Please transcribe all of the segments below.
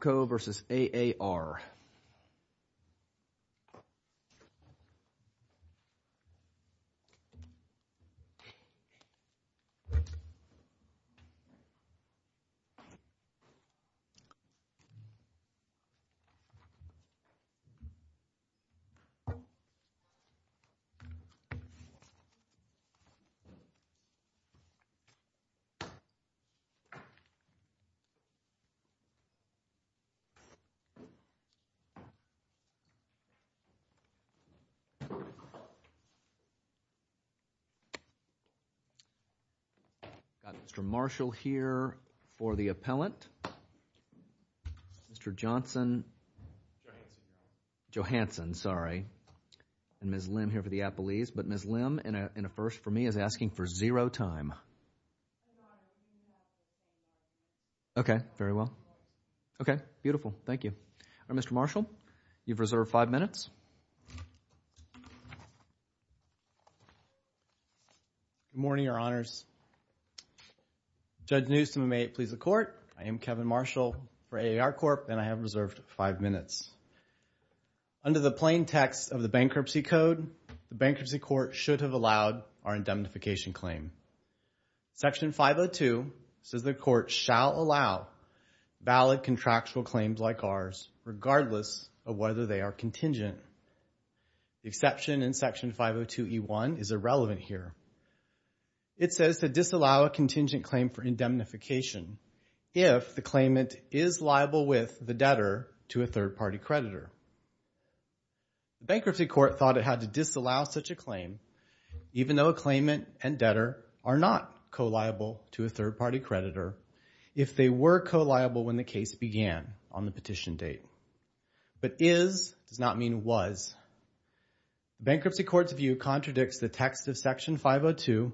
OPCO v. AAR I've got Mr. Marshall here for the appellant, Mr. Johnson, Johansson, sorry, and Ms. Lim here for the appellees. But Ms. Lim, in a first for me, is asking for zero time. Okay, very well. Okay, beautiful. Thank you. All right, Mr. Marshall, you've reserved five minutes. Good morning, Your Honors. Judge Newsom, may it please the Court, I am Kevin Marshall for AAR CORP., and I have reserved five minutes. Under the plain text of the Bankruptcy Code, the Bankruptcy Court should have allowed our indemnification claim. Section 502 says the Court shall allow valid contractual claims like ours regardless of whether they are contingent. The exception in Section 502e1 is irrelevant here. It says to disallow a contingent claim for indemnification if the claimant is liable with the debtor to a third-party creditor. The Bankruptcy Court thought it had to disallow such a claim even though a claimant and debtor are not co-liable to a third-party creditor if they were co-liable when the case began on the petition date. But is does not mean was. The Bankruptcy Court's view contradicts the text of Section 502,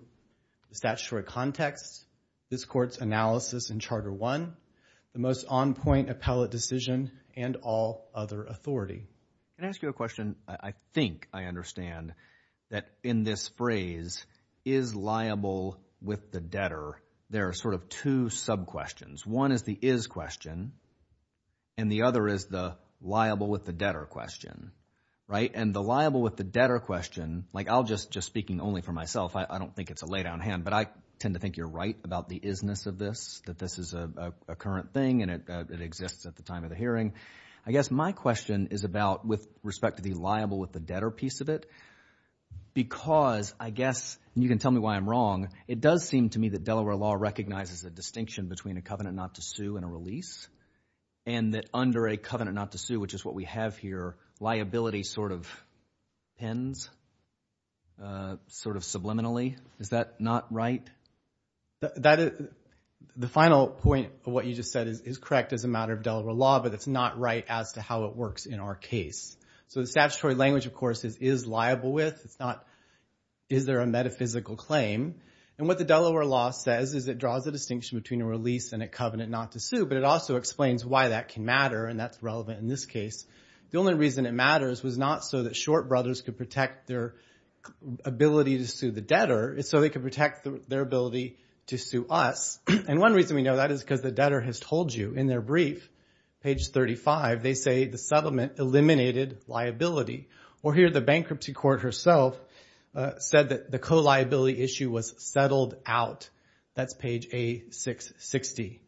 the statutory context, this Court's analysis in Charter I, the most on-point appellate decision, and all other authority. Can I ask you a question? I think I understand that in this phrase, is liable with the debtor, there are sort of two sub-questions. One is the is question and the other is the liable with the debtor question, right? And the liable with the debtor question, like I'll just, just speaking only for myself, I don't think it's a lay down hand, but I tend to think you're right about the is-ness of this, that this is a current thing and it exists at the time of the hearing. I guess my question is about with respect to the liable with the debtor piece of it, because I guess, and you can tell me why I'm wrong, it does seem to me that Delaware law recognizes the distinction between a covenant not to sue and a release, and that under a covenant not to sue, which is what we have here, liability sort of ends, sort of subliminally. Is that not right? The final point of what you just said is correct as a matter of Delaware law, but it's not right as to how it works in our case. So the statutory language, of course, is liable with, it's not, is there a metaphysical claim? And what the Delaware law says is it draws a distinction between a release and a covenant not to sue, but it also explains why that can matter, and that's relevant in this case. The only reason it matters was not so that Short Brothers could protect their ability to sue the debtor, it's so they could protect their ability to sue us. And one reason we know that is because the debtor has told you in their brief, page 35, they say the settlement eliminated liability. Or here the bankruptcy court herself said that the co-liability issue was settled out. That's page A660.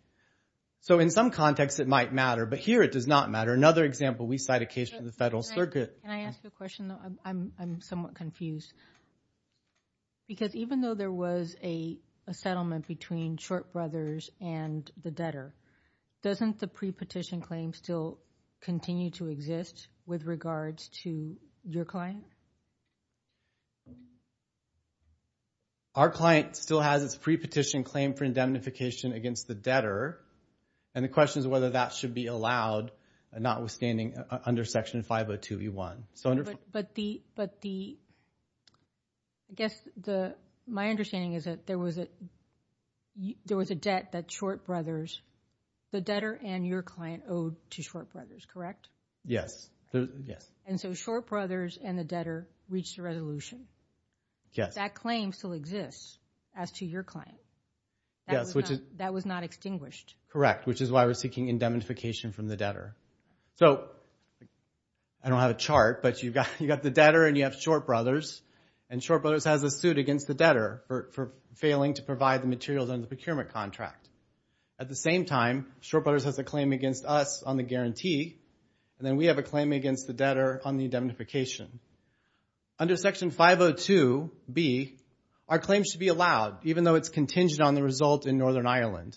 So in some contexts it might matter, but here it does not matter. Another example, we cite a case from the Federal Circuit. Can I ask you a question, though? I'm somewhat confused. Because even though there was a settlement between Short Brothers and the debtor, doesn't the pre-petition claim still continue to exist with regards to your client? Our client still has its pre-petition claim for indemnification against the debtor, and the question is whether that should be allowed, notwithstanding under Section 502e1. But the, I guess my understanding is that there was a debt that Short Brothers, the debtor and your client owed to Short Brothers, correct? Yes. And so Short Brothers and the debtor reached a resolution. That claim still exists as to your client. That was not extinguished. Correct. Which is why we're seeking indemnification from the debtor. So I don't have a chart, but you've got the debtor and you have Short Brothers, and Short Brothers has a suit against the debtor for failing to provide the materials under the procurement contract. At the same time, Short Brothers has a claim against us on the guarantee, and then we have a claim against the debtor on the indemnification. Under Section 502b, our claim should be allowed, even though it's contingent on the result in Northern Ireland,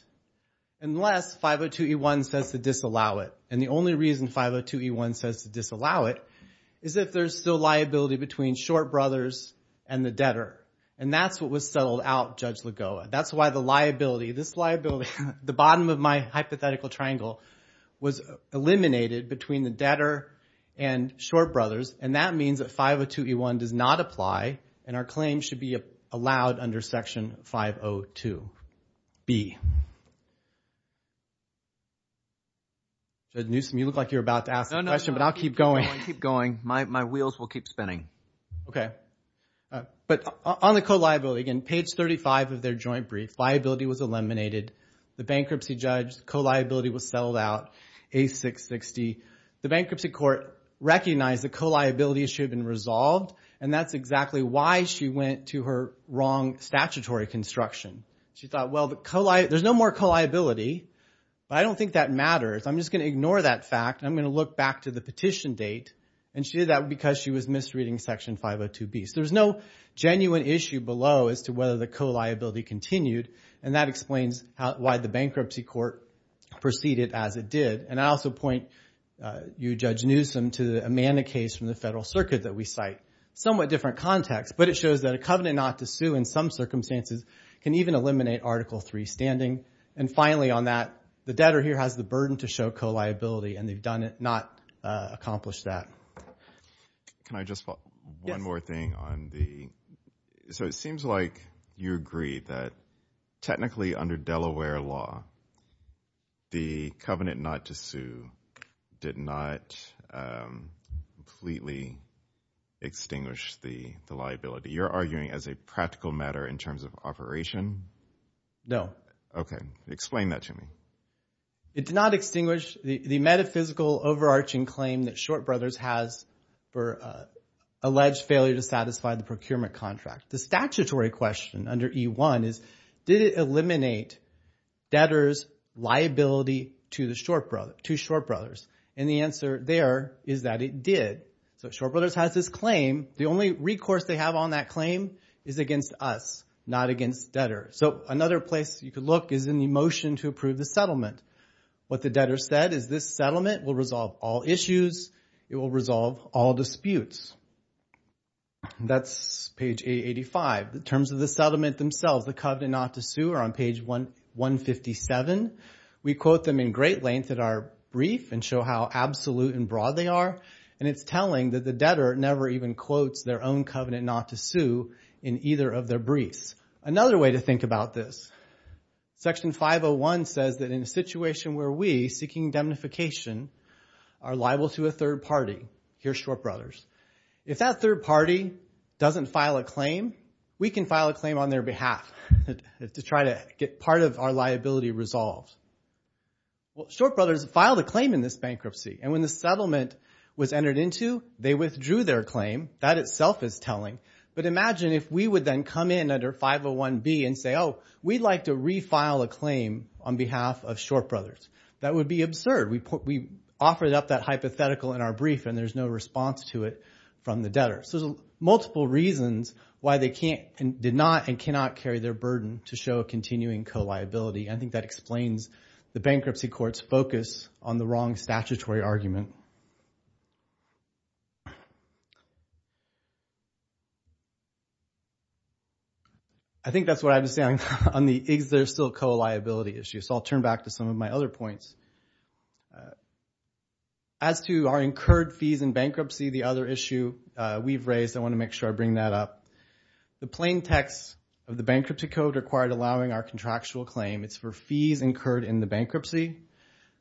unless 502e1 says to disallow it. And the only reason 502e1 says to disallow it is if there's still liability between Short Brothers and the debtor. And that's what was settled out, Judge Lagoa. That's why the liability, this liability, the bottom of my hypothetical triangle was eliminated between the debtor and Short Brothers, and that means that 502e1 does not apply, and our claim should be allowed under Section 502b. Judge Newsom, you look like you're about to ask a question, but I'll keep going. Keep going. My wheels will keep spinning. Okay. But on the co-liability, again, page 35 of their joint brief, liability was eliminated. The bankruptcy judge, co-liability was settled out, A660. The bankruptcy court recognized that co-liabilities should have been resolved, and that's exactly why she went to her wrong statutory construction. She thought, well, there's no more co-liability, but I don't think that matters. I'm just going to ignore that fact. I'm going to look back to the petition date, and she did that because she was misreading Section 502b. So there's no genuine issue below as to whether the co-liability continued, and that explains why the bankruptcy court proceeded as it did. And I also point you, Judge Newsom, to the Amanda case from the Federal Circuit that we cite. Somewhat different context, but it shows that a covenant not to sue in some circumstances can even eliminate Article III standing. And finally on that, the debtor here has the burden to show co-liability, and they've not accomplished that. Can I just follow up? Yes. One more thing on the... So it seems like you agree that technically under Delaware law, the covenant not to sue did not completely extinguish the liability. You're arguing as a practical matter in terms of operation? No. Okay. Explain that to me. It did not extinguish the metaphysical overarching claim that Short Brothers has for alleged failure to satisfy the procurement contract. The statutory question under E-1 is, did it eliminate debtor's liability to the Short Brothers? And the answer there is that it did. So Short Brothers has this claim. The only recourse they have on that claim is against us, not against debtor. So another place you could look is in the motion to approve the settlement. What the debtor said is this settlement will resolve all issues. It will resolve all disputes. That's page 885. The terms of the settlement themselves, the covenant not to sue, are on page 157. We quote them in great length in our brief and show how absolute and broad they are. And it's telling that the debtor never even quotes their own covenant not to sue in either of their briefs. Another way to think about this, section 501 says that in a situation where we, seeking indemnification, are liable to a third party, here's Short Brothers. If that third party doesn't file a claim, we can file a claim on their behalf to try to get part of our liability resolved. Short Brothers filed a claim in this bankruptcy and when the settlement was entered into, they withdrew their claim. That itself is telling. But imagine if we would then come in under 501B and say, oh, we'd like to refile a claim on behalf of Short Brothers. That would be absurd. We offered up that hypothetical in our brief and there's no response to it from the debtor. So there's multiple reasons why they can't, did not, and cannot carry their burden to show a continuing co-liability. I think that explains the bankruptcy court's focus on the wrong statutory argument. I think that's what I was saying on the is there still a co-liability issue. So I'll turn back to some of my other points. As to our incurred fees in bankruptcy, the other issue we've raised, I want to make sure I bring that up. The plain text of the bankruptcy code required allowing our contractual claim. It's for fees incurred in the bankruptcy.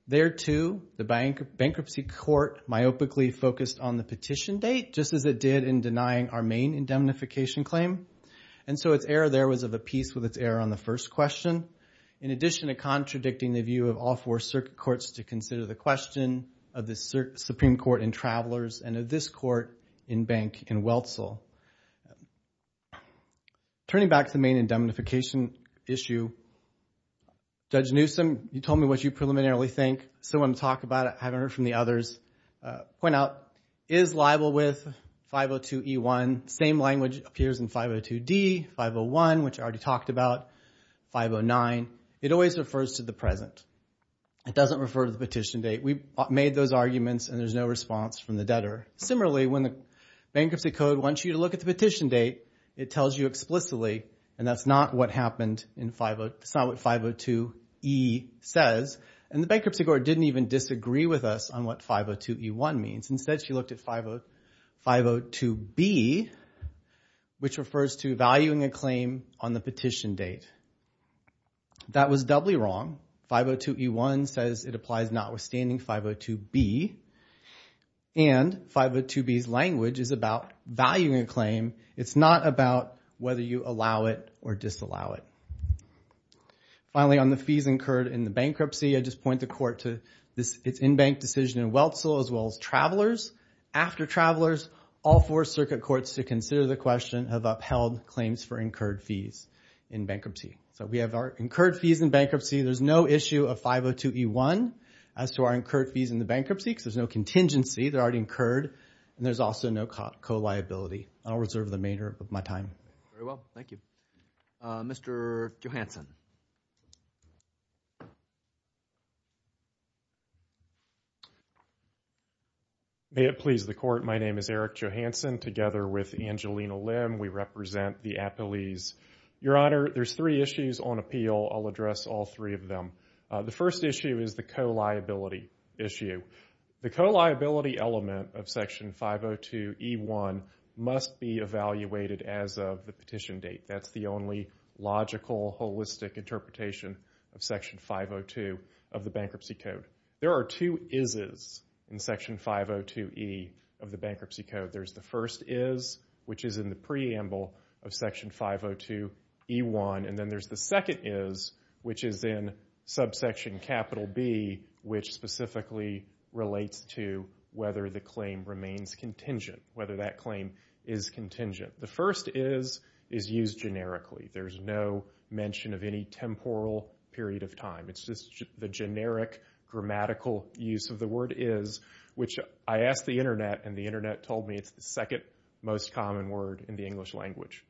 There too, the bankruptcy court myopically focused on the petition date just as it did in denying our main indemnification claim. And so its error there was of a piece with its error on the first question. In addition to contradicting the view of all four circuit courts to consider the question of the Supreme Court in Travelers and of this court in Bank in Wetzel. Turning back to the main indemnification issue, Judge Newsom, you told me what you preliminarily think. So I'm going to talk about it. I haven't heard from the others. Point out, is liable with 502E1, same language appears in 502D, 501, which I already talked about, 509. It always refers to the present. It doesn't refer to the petition date. We made those arguments and there's no response from the debtor. Similarly, when the bankruptcy code wants you to look at the petition date, it tells you explicitly, and that's not what happened in 502E says, and the bankruptcy court didn't even disagree with us on what 502E1 means. Instead, she looked at 502B, which refers to valuing a claim on the petition date. That was doubly wrong. 502E1 says it applies notwithstanding 502B, and 502B's language is about valuing a claim. It's not about whether you allow it or disallow it. Finally, on the fees incurred in the bankruptcy, I just point the court to its in-bank decision in Wetzel as well as travelers. After travelers, all four circuit courts to consider the question have upheld claims for incurred fees in bankruptcy. We have our incurred fees in bankruptcy. There's no issue of 502E1 as to our incurred fees in the bankruptcy because there's no contingency. They're already incurred and there's also no co-liability. I'll reserve the remainder of my time. Very well. Thank you. Mr. Johanson. May it please the court, my name is Eric Johanson. Together with Angelina Lim, we represent the appellees. Your Honor, there's three issues on appeal. I'll address all three of them. The first issue is the co-liability issue. The co-liability element of Section 502E1 must be evaluated as of the petition date. That's the only logical, holistic interpretation of Section 502 of the Bankruptcy Code. There are two is's in Section 502E of the Bankruptcy Code. There's the first is, which is in the preamble of Section 502E1, and then there's the second is, which is in subsection capital B, which specifically relates to whether the claim remains contingent, whether that claim is contingent. The first is is used generically. There's no mention of any temporal period of time. It's just the generic grammatical use of the word is, which I asked the Internet and the Internet told me it's the second most common word in the English language.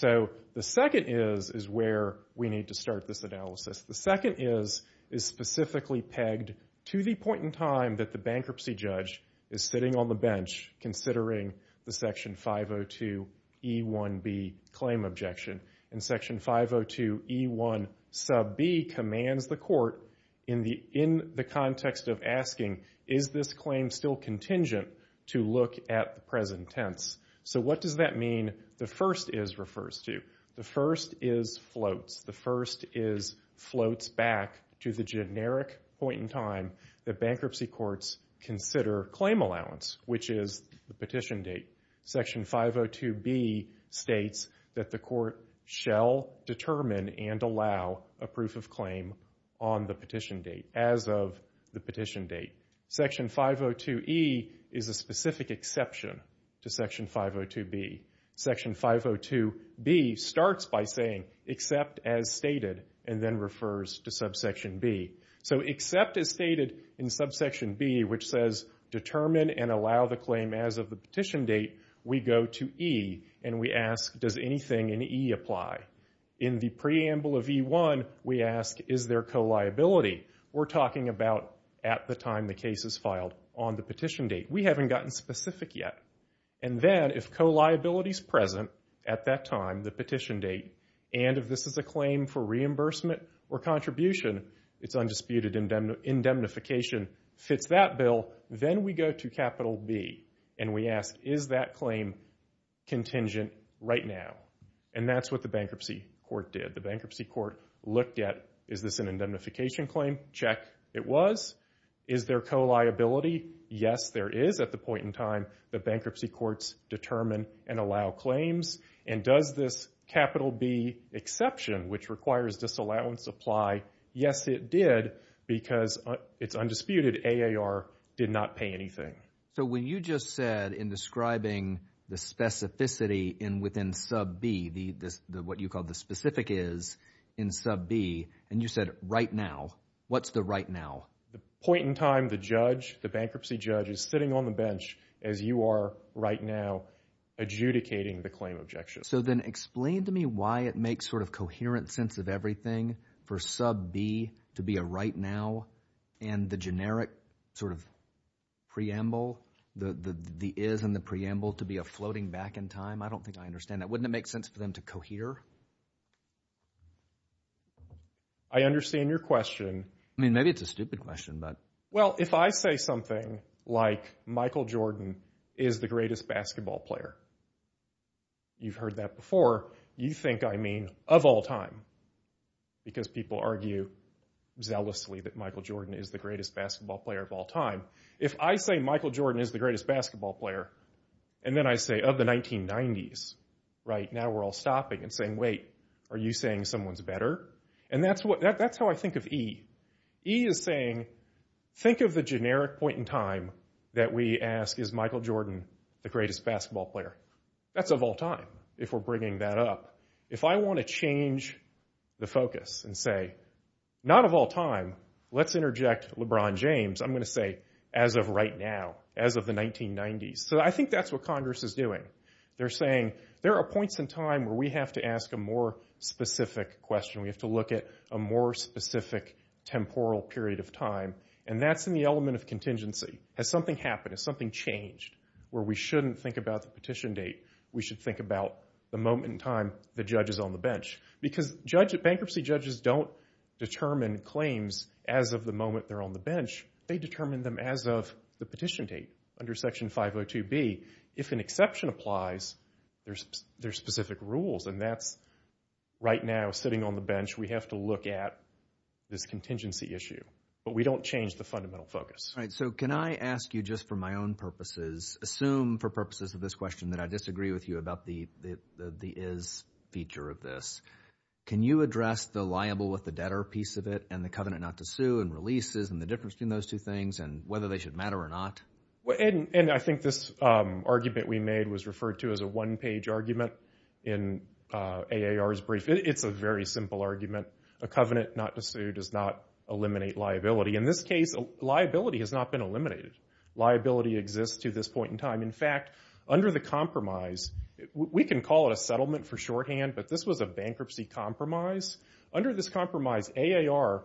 The second is is where we need to start this analysis. The second is is specifically pegged to the point in time that the bankruptcy judge is sitting on the bench considering the Section 502E1B claim objection. Section 502E1 sub B commands the court, in the context of asking, is this claim still contingent to look at the present tense? What does that mean the first is refers to? The first is floats. The first is floats back to the generic point in time that bankruptcy courts consider claim allowance, which is the petition date. Section 502B states that the court shall determine and allow a proof of claim on the petition date, as of the petition date. Section 502E is a specific exception to Section 502B. Section 502B starts by saying except as stated and then refers to subsection B. Except as stated in subsection B, which says determine and allow the claim as of the petition date, we go to E and we ask, does anything in E apply? In the preamble of E1, we ask, is there co-liability? We're talking about at the time the case is filed on the petition date. We haven't gotten specific yet. Then, if co-liability is present at that time, the petition date, and if this is a claim for reimbursement or contribution, it's undisputed indemnification fits that bill, then we go to capital B and we ask, is that claim contingent right now? That's what the bankruptcy court did. The bankruptcy court looked at, is this an indemnification claim? Check. It was. Is there co-liability? Yes, there is at the point in time that bankruptcy courts determine and allow claims. Does this capital B exception, which requires disallowance, apply? Yes, it did because it's undisputed AAR did not pay anything. When you just said in describing the specificity within sub B, what you called the specific is in sub B, and you said right now, what's the right now? The point in time the judge, the bankruptcy judge, is sitting on the bench as you are right now adjudicating the claim objection. So then explain to me why it makes sort of coherent sense of everything for sub B to be a right now and the generic sort of preamble, the is and the preamble to be a floating back in time. I don't think I understand that. Wouldn't it make sense for them to cohere? I understand your question. I mean, maybe it's a stupid question, but. Well, if I say something like Michael Jordan is the greatest basketball player, you've heard that before, you think I mean of all time, because people argue zealously that Michael Jordan is the greatest basketball player of all time. If I say Michael Jordan is the greatest basketball player, and then I say of the 1990s, right, now we're all stopping and saying, wait, are you saying someone's better? And that's how I think of E. E is saying, think of the generic point in time that we ask, is Michael Jordan the greatest basketball player? That's of all time, if we're bringing that up. If I want to change the focus and say, not of all time, let's interject LeBron James, I'm going to say, as of right now, as of the 1990s. So I think that's what Congress is doing. They're saying, there are points in time where we have to ask a more specific question. We have to look at a more specific temporal period of time, and that's in the element of contingency. Has something happened? Has something changed where we shouldn't think about the petition date? We should think about the moment in time the judge is on the bench. Because bankruptcy judges don't determine claims as of the moment they're on the bench. They determine them as of the petition date, under Section 502B. If an exception applies, there's specific rules, and that's, right now, sitting on the bench, we have to look at this contingency issue, but we don't change the fundamental focus. So can I ask you, just for my own purposes, assume for purposes of this question that I disagree with you about the is feature of this. Can you address the liable with the debtor piece of it, and the covenant not to sue, and releases, and the difference between those two things, and whether they should matter or not? And I think this argument we made was referred to as a one-page argument in AAR's brief. It's a very simple argument. A covenant not to sue does not eliminate liability. In this case, liability has not been eliminated. Liability exists to this point in time. In fact, under the compromise, we can call it a settlement for shorthand, but this was a bankruptcy compromise. Under this compromise, AAR,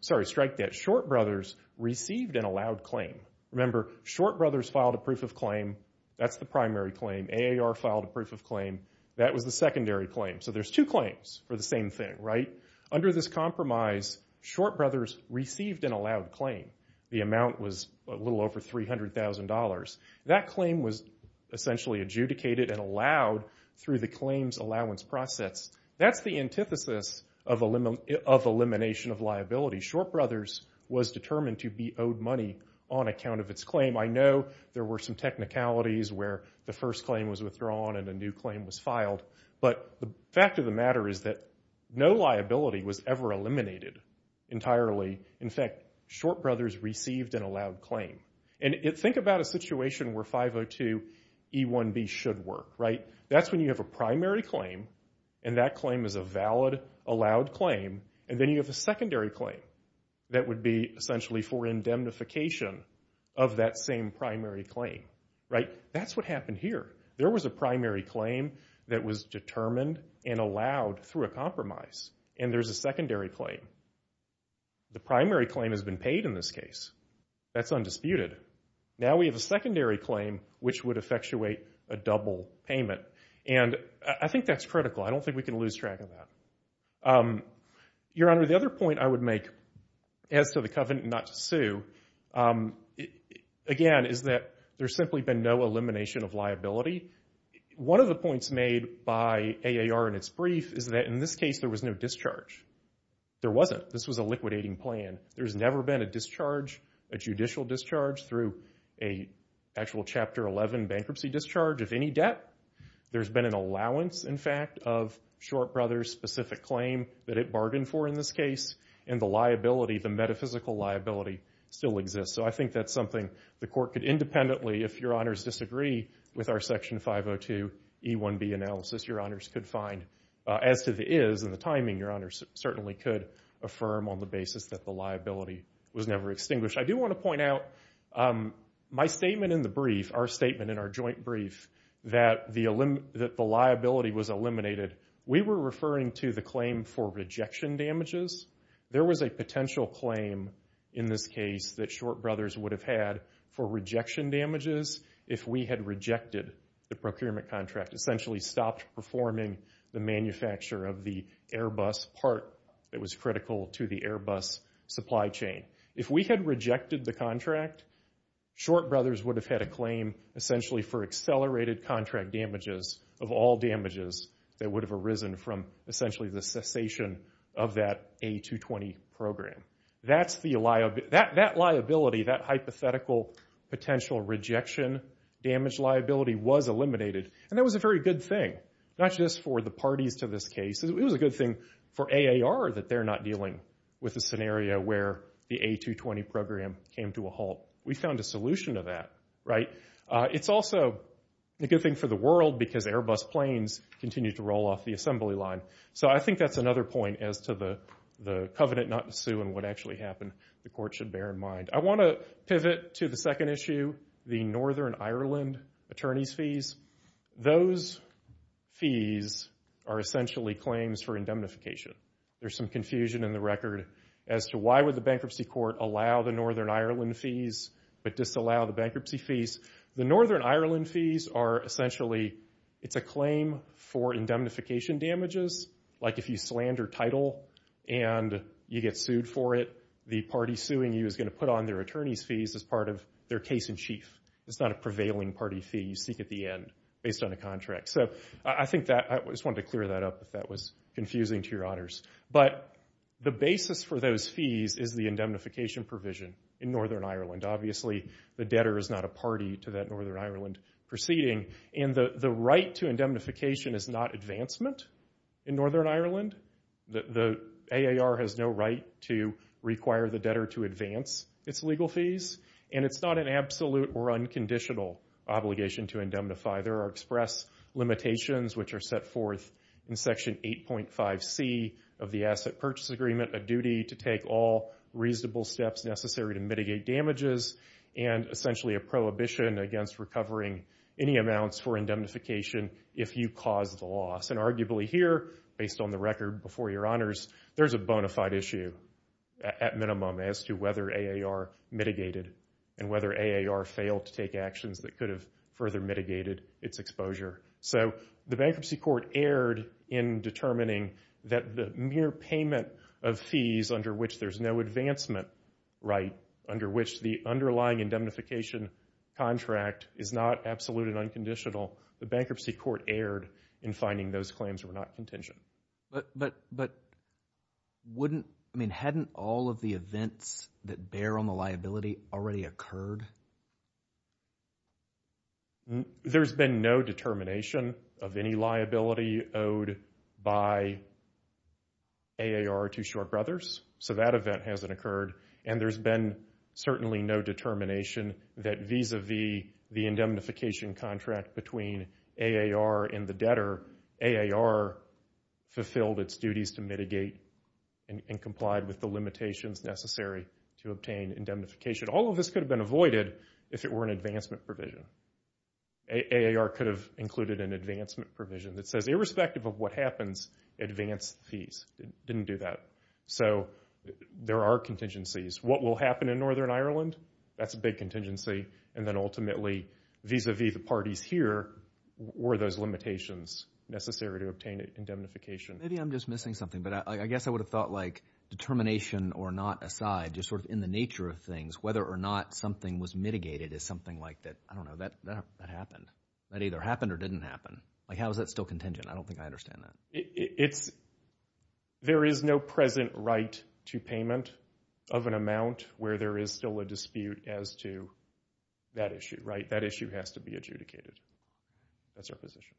sorry, Strike Debt Short Brothers, received an allowed claim. Remember, Short Brothers filed a proof of claim. That's the primary claim. AAR filed a proof of claim. That was the secondary claim. So there's two claims for the same thing, right? Under this compromise, Short Brothers received an allowed claim. The amount was a little over $300,000. That claim was essentially adjudicated and allowed through the claims allowance process. That's the antithesis of elimination of liability. Short Brothers was determined to be owed money on account of its claim. I know there were some technicalities where the first claim was withdrawn and a new claim was filed, but the fact of the matter is that no liability was ever eliminated entirely. In fact, Short Brothers received an allowed claim. Think about a situation where 502e1b should work, right? That's when you have a primary claim, and that claim is a valid allowed claim, and then you have a secondary claim that would be essentially for indemnification of that same primary claim, right? That's what happened here. There was a primary claim that was determined and allowed through a compromise, and there's a secondary claim. The primary claim has been paid in this case. That's undisputed. Now we have a secondary claim which would effectuate a double payment, and I think that's critical. I don't think we can lose track of that. Your Honor, the other point I would make as to the covenant not to sue, again, is that there's simply been no elimination of liability. One of the points made by AAR in its brief is that in this case there was no discharge. There wasn't. This was a liquidating plan. There's never been a discharge, a judicial discharge, through an actual Chapter 11 bankruptcy discharge of any debt. There's been an allowance, in fact, of Short Brothers' specific claim that it bargained for in this case, and the liability, the metaphysical liability, still exists. So I think that's something the Court could independently, if Your Honors disagree with our Section 502e1b analysis, Your Honors could find. As to the is and the timing, Your Honors certainly could affirm on the basis that the liability was never extinguished. I do want to point out my statement in the brief, our statement in our joint brief, that the liability was eliminated. We were referring to the claim for rejection damages. There was a potential claim in this case that Short Brothers would have had for rejection damages if we had rejected the procurement contract, essentially stopped performing the manufacture of the Airbus part that was critical to the Airbus supply chain. If we had rejected the contract, Short Brothers would have had a claim, essentially, for accelerated contract damages of all damages that would have arisen from, essentially, the cessation of that A220 program. That's the liability, that hypothetical potential rejection damage liability was eliminated. And that was a very good thing, not just for the parties to this case, it was a good thing for AAR that they're not dealing with a scenario where the A220 program came to a halt. We found a solution to that. It's also a good thing for the world because Airbus planes continue to roll off the assembly line. So I think that's another point as to the covenant not to sue and what actually happened the court should bear in mind. I want to pivot to the second issue, the Northern Ireland attorneys' fees. Those fees are essentially claims for indemnification. There's some confusion in the record as to why would the bankruptcy court allow the Northern Ireland fees but disallow the bankruptcy fees. The Northern Ireland fees are essentially, it's a claim for indemnification damages. Like if you slander title and you get sued for it, the party suing you is going to put on their attorney's fees as part of their case in chief. It's not a prevailing party fee you seek at the end based on a contract. I just wanted to clear that up if that was confusing to your honors. But the basis for those fees is the indemnification provision in Northern Ireland. Obviously the debtor is not a party to that Northern Ireland proceeding and the right to indemnification is not advancement in Northern Ireland. The AAR has no right to require the debtor to advance its legal fees and it's not an unconditional obligation to indemnify. There are express limitations which are set forth in Section 8.5C of the Asset Purchase Agreement, a duty to take all reasonable steps necessary to mitigate damages and essentially a prohibition against recovering any amounts for indemnification if you cause the loss. Arguably here, based on the record before your honors, there's a bona fide issue at minimum as to whether AAR mitigated and whether AAR failed to take actions that could have further mitigated its exposure. So the bankruptcy court erred in determining that the mere payment of fees under which there's no advancement right, under which the underlying indemnification contract is not absolute and unconditional, the bankruptcy court erred in finding those claims were not contingent. But wouldn't, I mean, hadn't all of the events that bear on the liability already occurred? There's been no determination of any liability owed by AAR to Short Brothers, so that event hasn't occurred and there's been certainly no determination that vis-a-vis the indemnification contract between AAR and the debtor, AAR fulfilled its duties to mitigate and complied with the limitations necessary to obtain indemnification. All of this could have been avoided if it were an advancement provision. AAR could have included an advancement provision that says irrespective of what happens, advance fees. It didn't do that. So there are contingencies. What will happen in Northern Ireland? That's a big contingency. And then ultimately, vis-a-vis the parties here, were those limitations necessary to obtain indemnification? Maybe I'm just missing something, but I guess I would have thought like determination or not aside, just sort of in the nature of things, whether or not something was mitigated is something like that. I don't know. That happened. That either happened or didn't happen. Like how is that still contingent? I don't think I understand that. There is no present right to payment of an amount where there is still a dispute as to that issue, right? That issue has to be adjudicated. That's our position.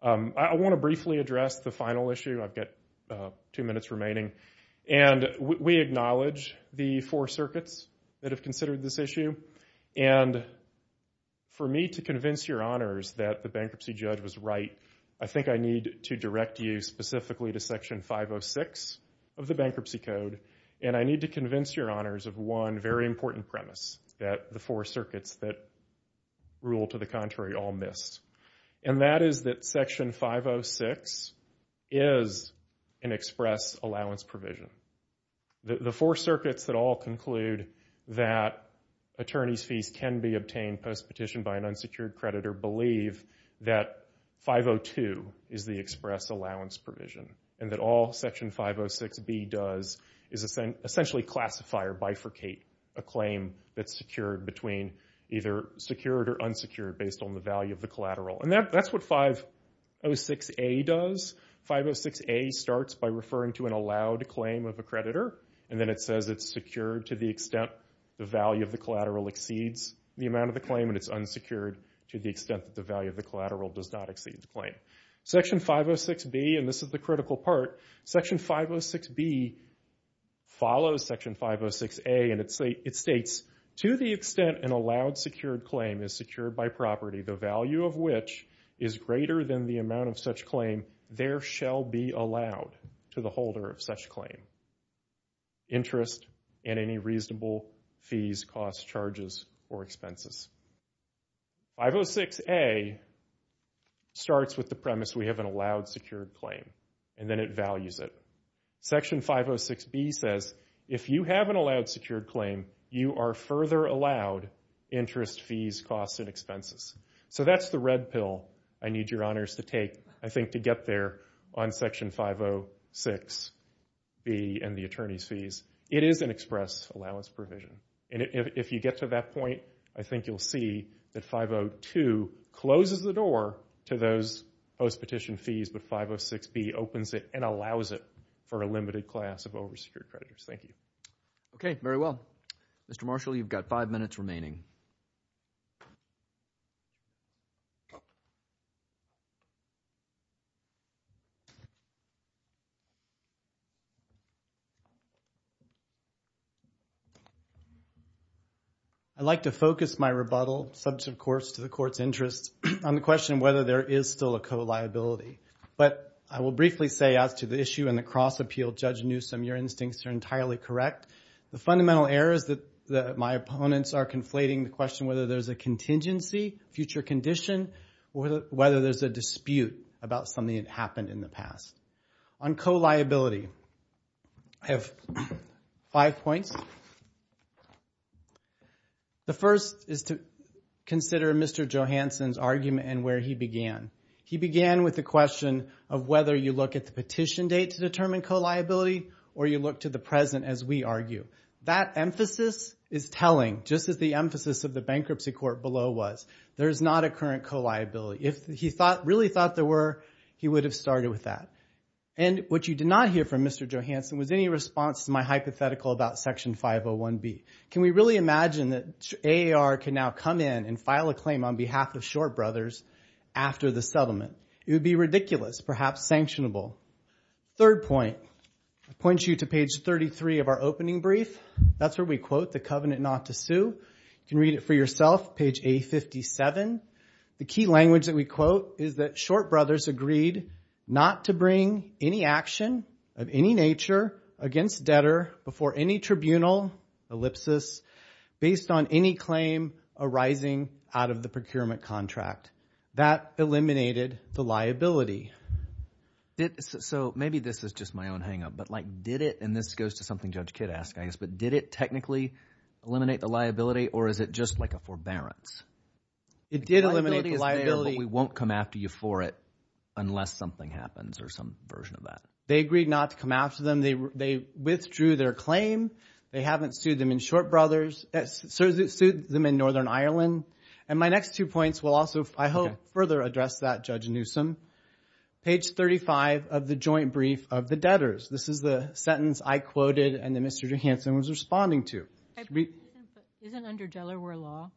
I want to briefly address the final issue. I've got two minutes remaining. And we acknowledge the four circuits that have considered this issue. And for me to convince your honors that the bankruptcy judge was right, I think I need to direct you specifically to Section 506 of the Bankruptcy Code. And I need to convince your honors of one very important premise that the four circuits that rule to the contrary all missed. And that is that Section 506 is an express allowance provision. The four circuits that all conclude that attorney's fees can be obtained post-petition by an unsecured creditor believe that 502 is the express allowance provision. And that all Section 506B does is essentially classify or bifurcate a claim that's secured between either secured or unsecured based on the value of the collateral. And that's what 506A does. 506A starts by referring to an allowed claim of a creditor. And then it says it's secured to the extent the value of the collateral exceeds the amount of the claim and it's unsecured to the extent that the value of the collateral does not exceed the claim. Section 506B, and this is the critical part, Section 506B follows Section 506A and it states to the extent an allowed secured claim is secured by property, the value of which is greater than the amount of such claim, there shall be allowed to the holder of such claim interest and any reasonable fees, costs, charges, or expenses. 506A starts with the premise we have an allowed secured claim and then it values it. Section 506B says if you have an allowed secured claim, you are further allowed interest, fees, costs, and expenses. So that's the red pill I need your honors to take, I think, to get there on Section 506B and the attorney's fees. It is an express allowance provision. And if you get to that point, I think you'll see that 502 closes the door to those postpetition fees, but 506B opens it and allows it for a limited class of oversecured creditors. Thank you. Okay, very well. Mr. Marshall, you've got five minutes remaining. I'd like to focus my rebuttal, subject of course to the court's interest, on the question whether there is still a co-liability. But I will briefly say as to the issue in the cross-appeal, Judge Newsom, your instincts are entirely correct. The fundamental error is that my opponents are conflating the question whether there's a contingency, future condition, or whether there's a dispute about something that happened in the past. On co-liability, I have five points. The first is to consider Mr. Johanson's argument and where he began. He began with the question of whether you look at the petition date to determine co-liability or you look to the present as we argue. That emphasis is telling, just as the emphasis of the bankruptcy court below was. There's not a current co-liability. If he really thought there were, he would have started with that. And what you did not hear from Mr. Johanson was any response to my hypothetical about Section 501B. Can we really imagine that AAR can now come in and file a claim on behalf of Shore Brothers after the settlement? It would be ridiculous, perhaps sanctionable. Third point, I point you to page 33 of our opening brief. That's where we quote the covenant not to sue. You can read it for yourself, page A57. The key language that we quote is that Shore Brothers agreed not to bring any action of any nature against debtor before any tribunal, ellipsis, based on any claim arising out of the procurement contract. That eliminated the liability. So maybe this is just my own hangup, but like did it, and this goes to something Judge Kidd asked, I guess, but did it technically eliminate the liability or is it just like a forbearance? It did eliminate the liability. We won't come after you for it unless something happens or some version of that. They agreed not to come after them. They withdrew their claim. They haven't sued them in Shore Brothers. They sued them in Northern Ireland. And my next two points will also, I hope, further address that, Judge Newsom. Page 35 of the joint brief of the debtors. This is the sentence I quoted and that Mr. Johanson was responding to. Isn't under Delaware law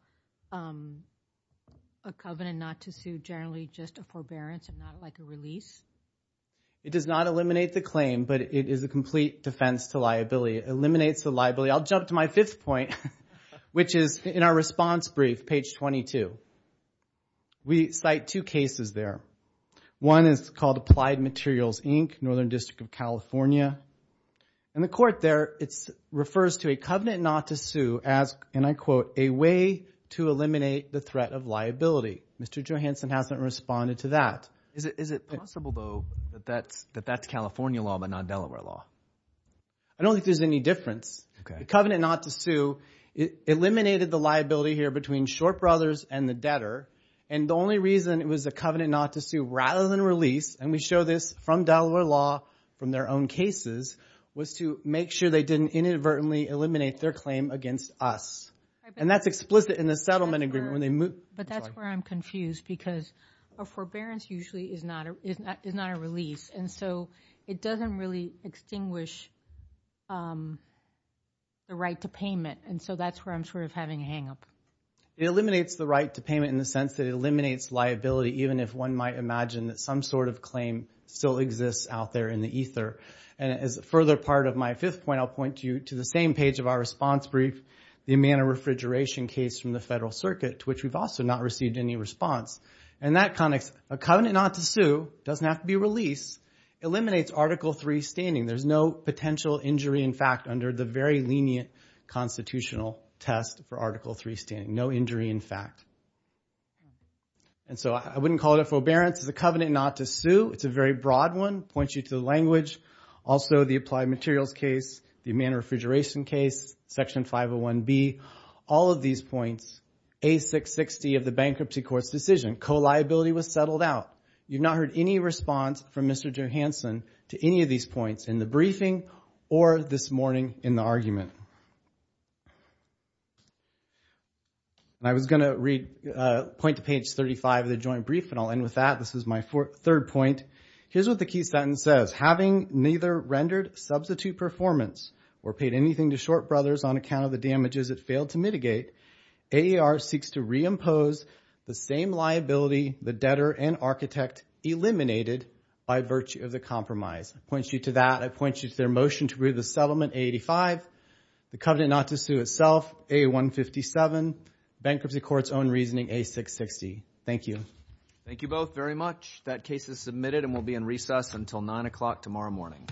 a covenant not to sue generally just a forbearance and not like a release? It does not eliminate the claim, but it is a complete defense to liability. It eliminates the liability. I'll jump to my fifth point, which is in our response brief, page 22. We cite two cases there. One is called Applied Materials, Inc., Northern District of California. And the court there, it refers to a covenant not to sue as, and I quote, a way to eliminate the threat of liability. Mr. Johanson hasn't responded to that. Is it possible, though, that that's California law but not Delaware law? I don't think there's any difference. A covenant not to sue eliminated the liability here between Shore Brothers and the debtor. And the only reason it was a covenant not to sue rather than release, and we show this from Delaware law, from their own cases, was to make sure they didn't inadvertently eliminate their claim against us. And that's explicit in the settlement agreement when they moved. But that's where I'm confused because a forbearance usually is not a release. And so it doesn't really extinguish the right to payment. And so that's where I'm sort of having a hang up. It eliminates the right to payment in the sense that it eliminates liability, even if one might imagine that some sort of claim still exists out there in the ether. And as a further part of my fifth point, I'll point you to the same page of our response brief, the Amana refrigeration case from the Federal Circuit, to which we've also not received any response. And that connects a covenant not to sue, doesn't have to be released, eliminates Article III standing. There's no potential injury, in fact, under the very lenient constitutional test for Article III standing. No injury, in fact. And so I wouldn't call it a forbearance. It's a covenant not to sue. It's a very broad one, points you to the language. Also, the applied materials case, the Amana refrigeration case, Section 501B, all of these points, A660 of the bankruptcy court's decision. Co-liability was settled out. You've not heard any response from Mr. Johanson to any of these points in the briefing or this morning in the argument. And I was going to read, point to page 35 of the joint brief, and I'll end with that. This is my third point. Here's what the key sentence says. Having neither rendered substitute performance or paid anything to Short Brothers on account of the damages it failed to mitigate, AAR seeks to reimpose the same liability the debtor and architect eliminated by virtue of the compromise. It points you to that. It points you to their motion to approve the settlement, A85, the covenant not to sue itself, A157, bankruptcy court's own reasoning, A660. Thank you. Thank you both very much. That case is submitted and will be in recess until 9 o'clock tomorrow morning.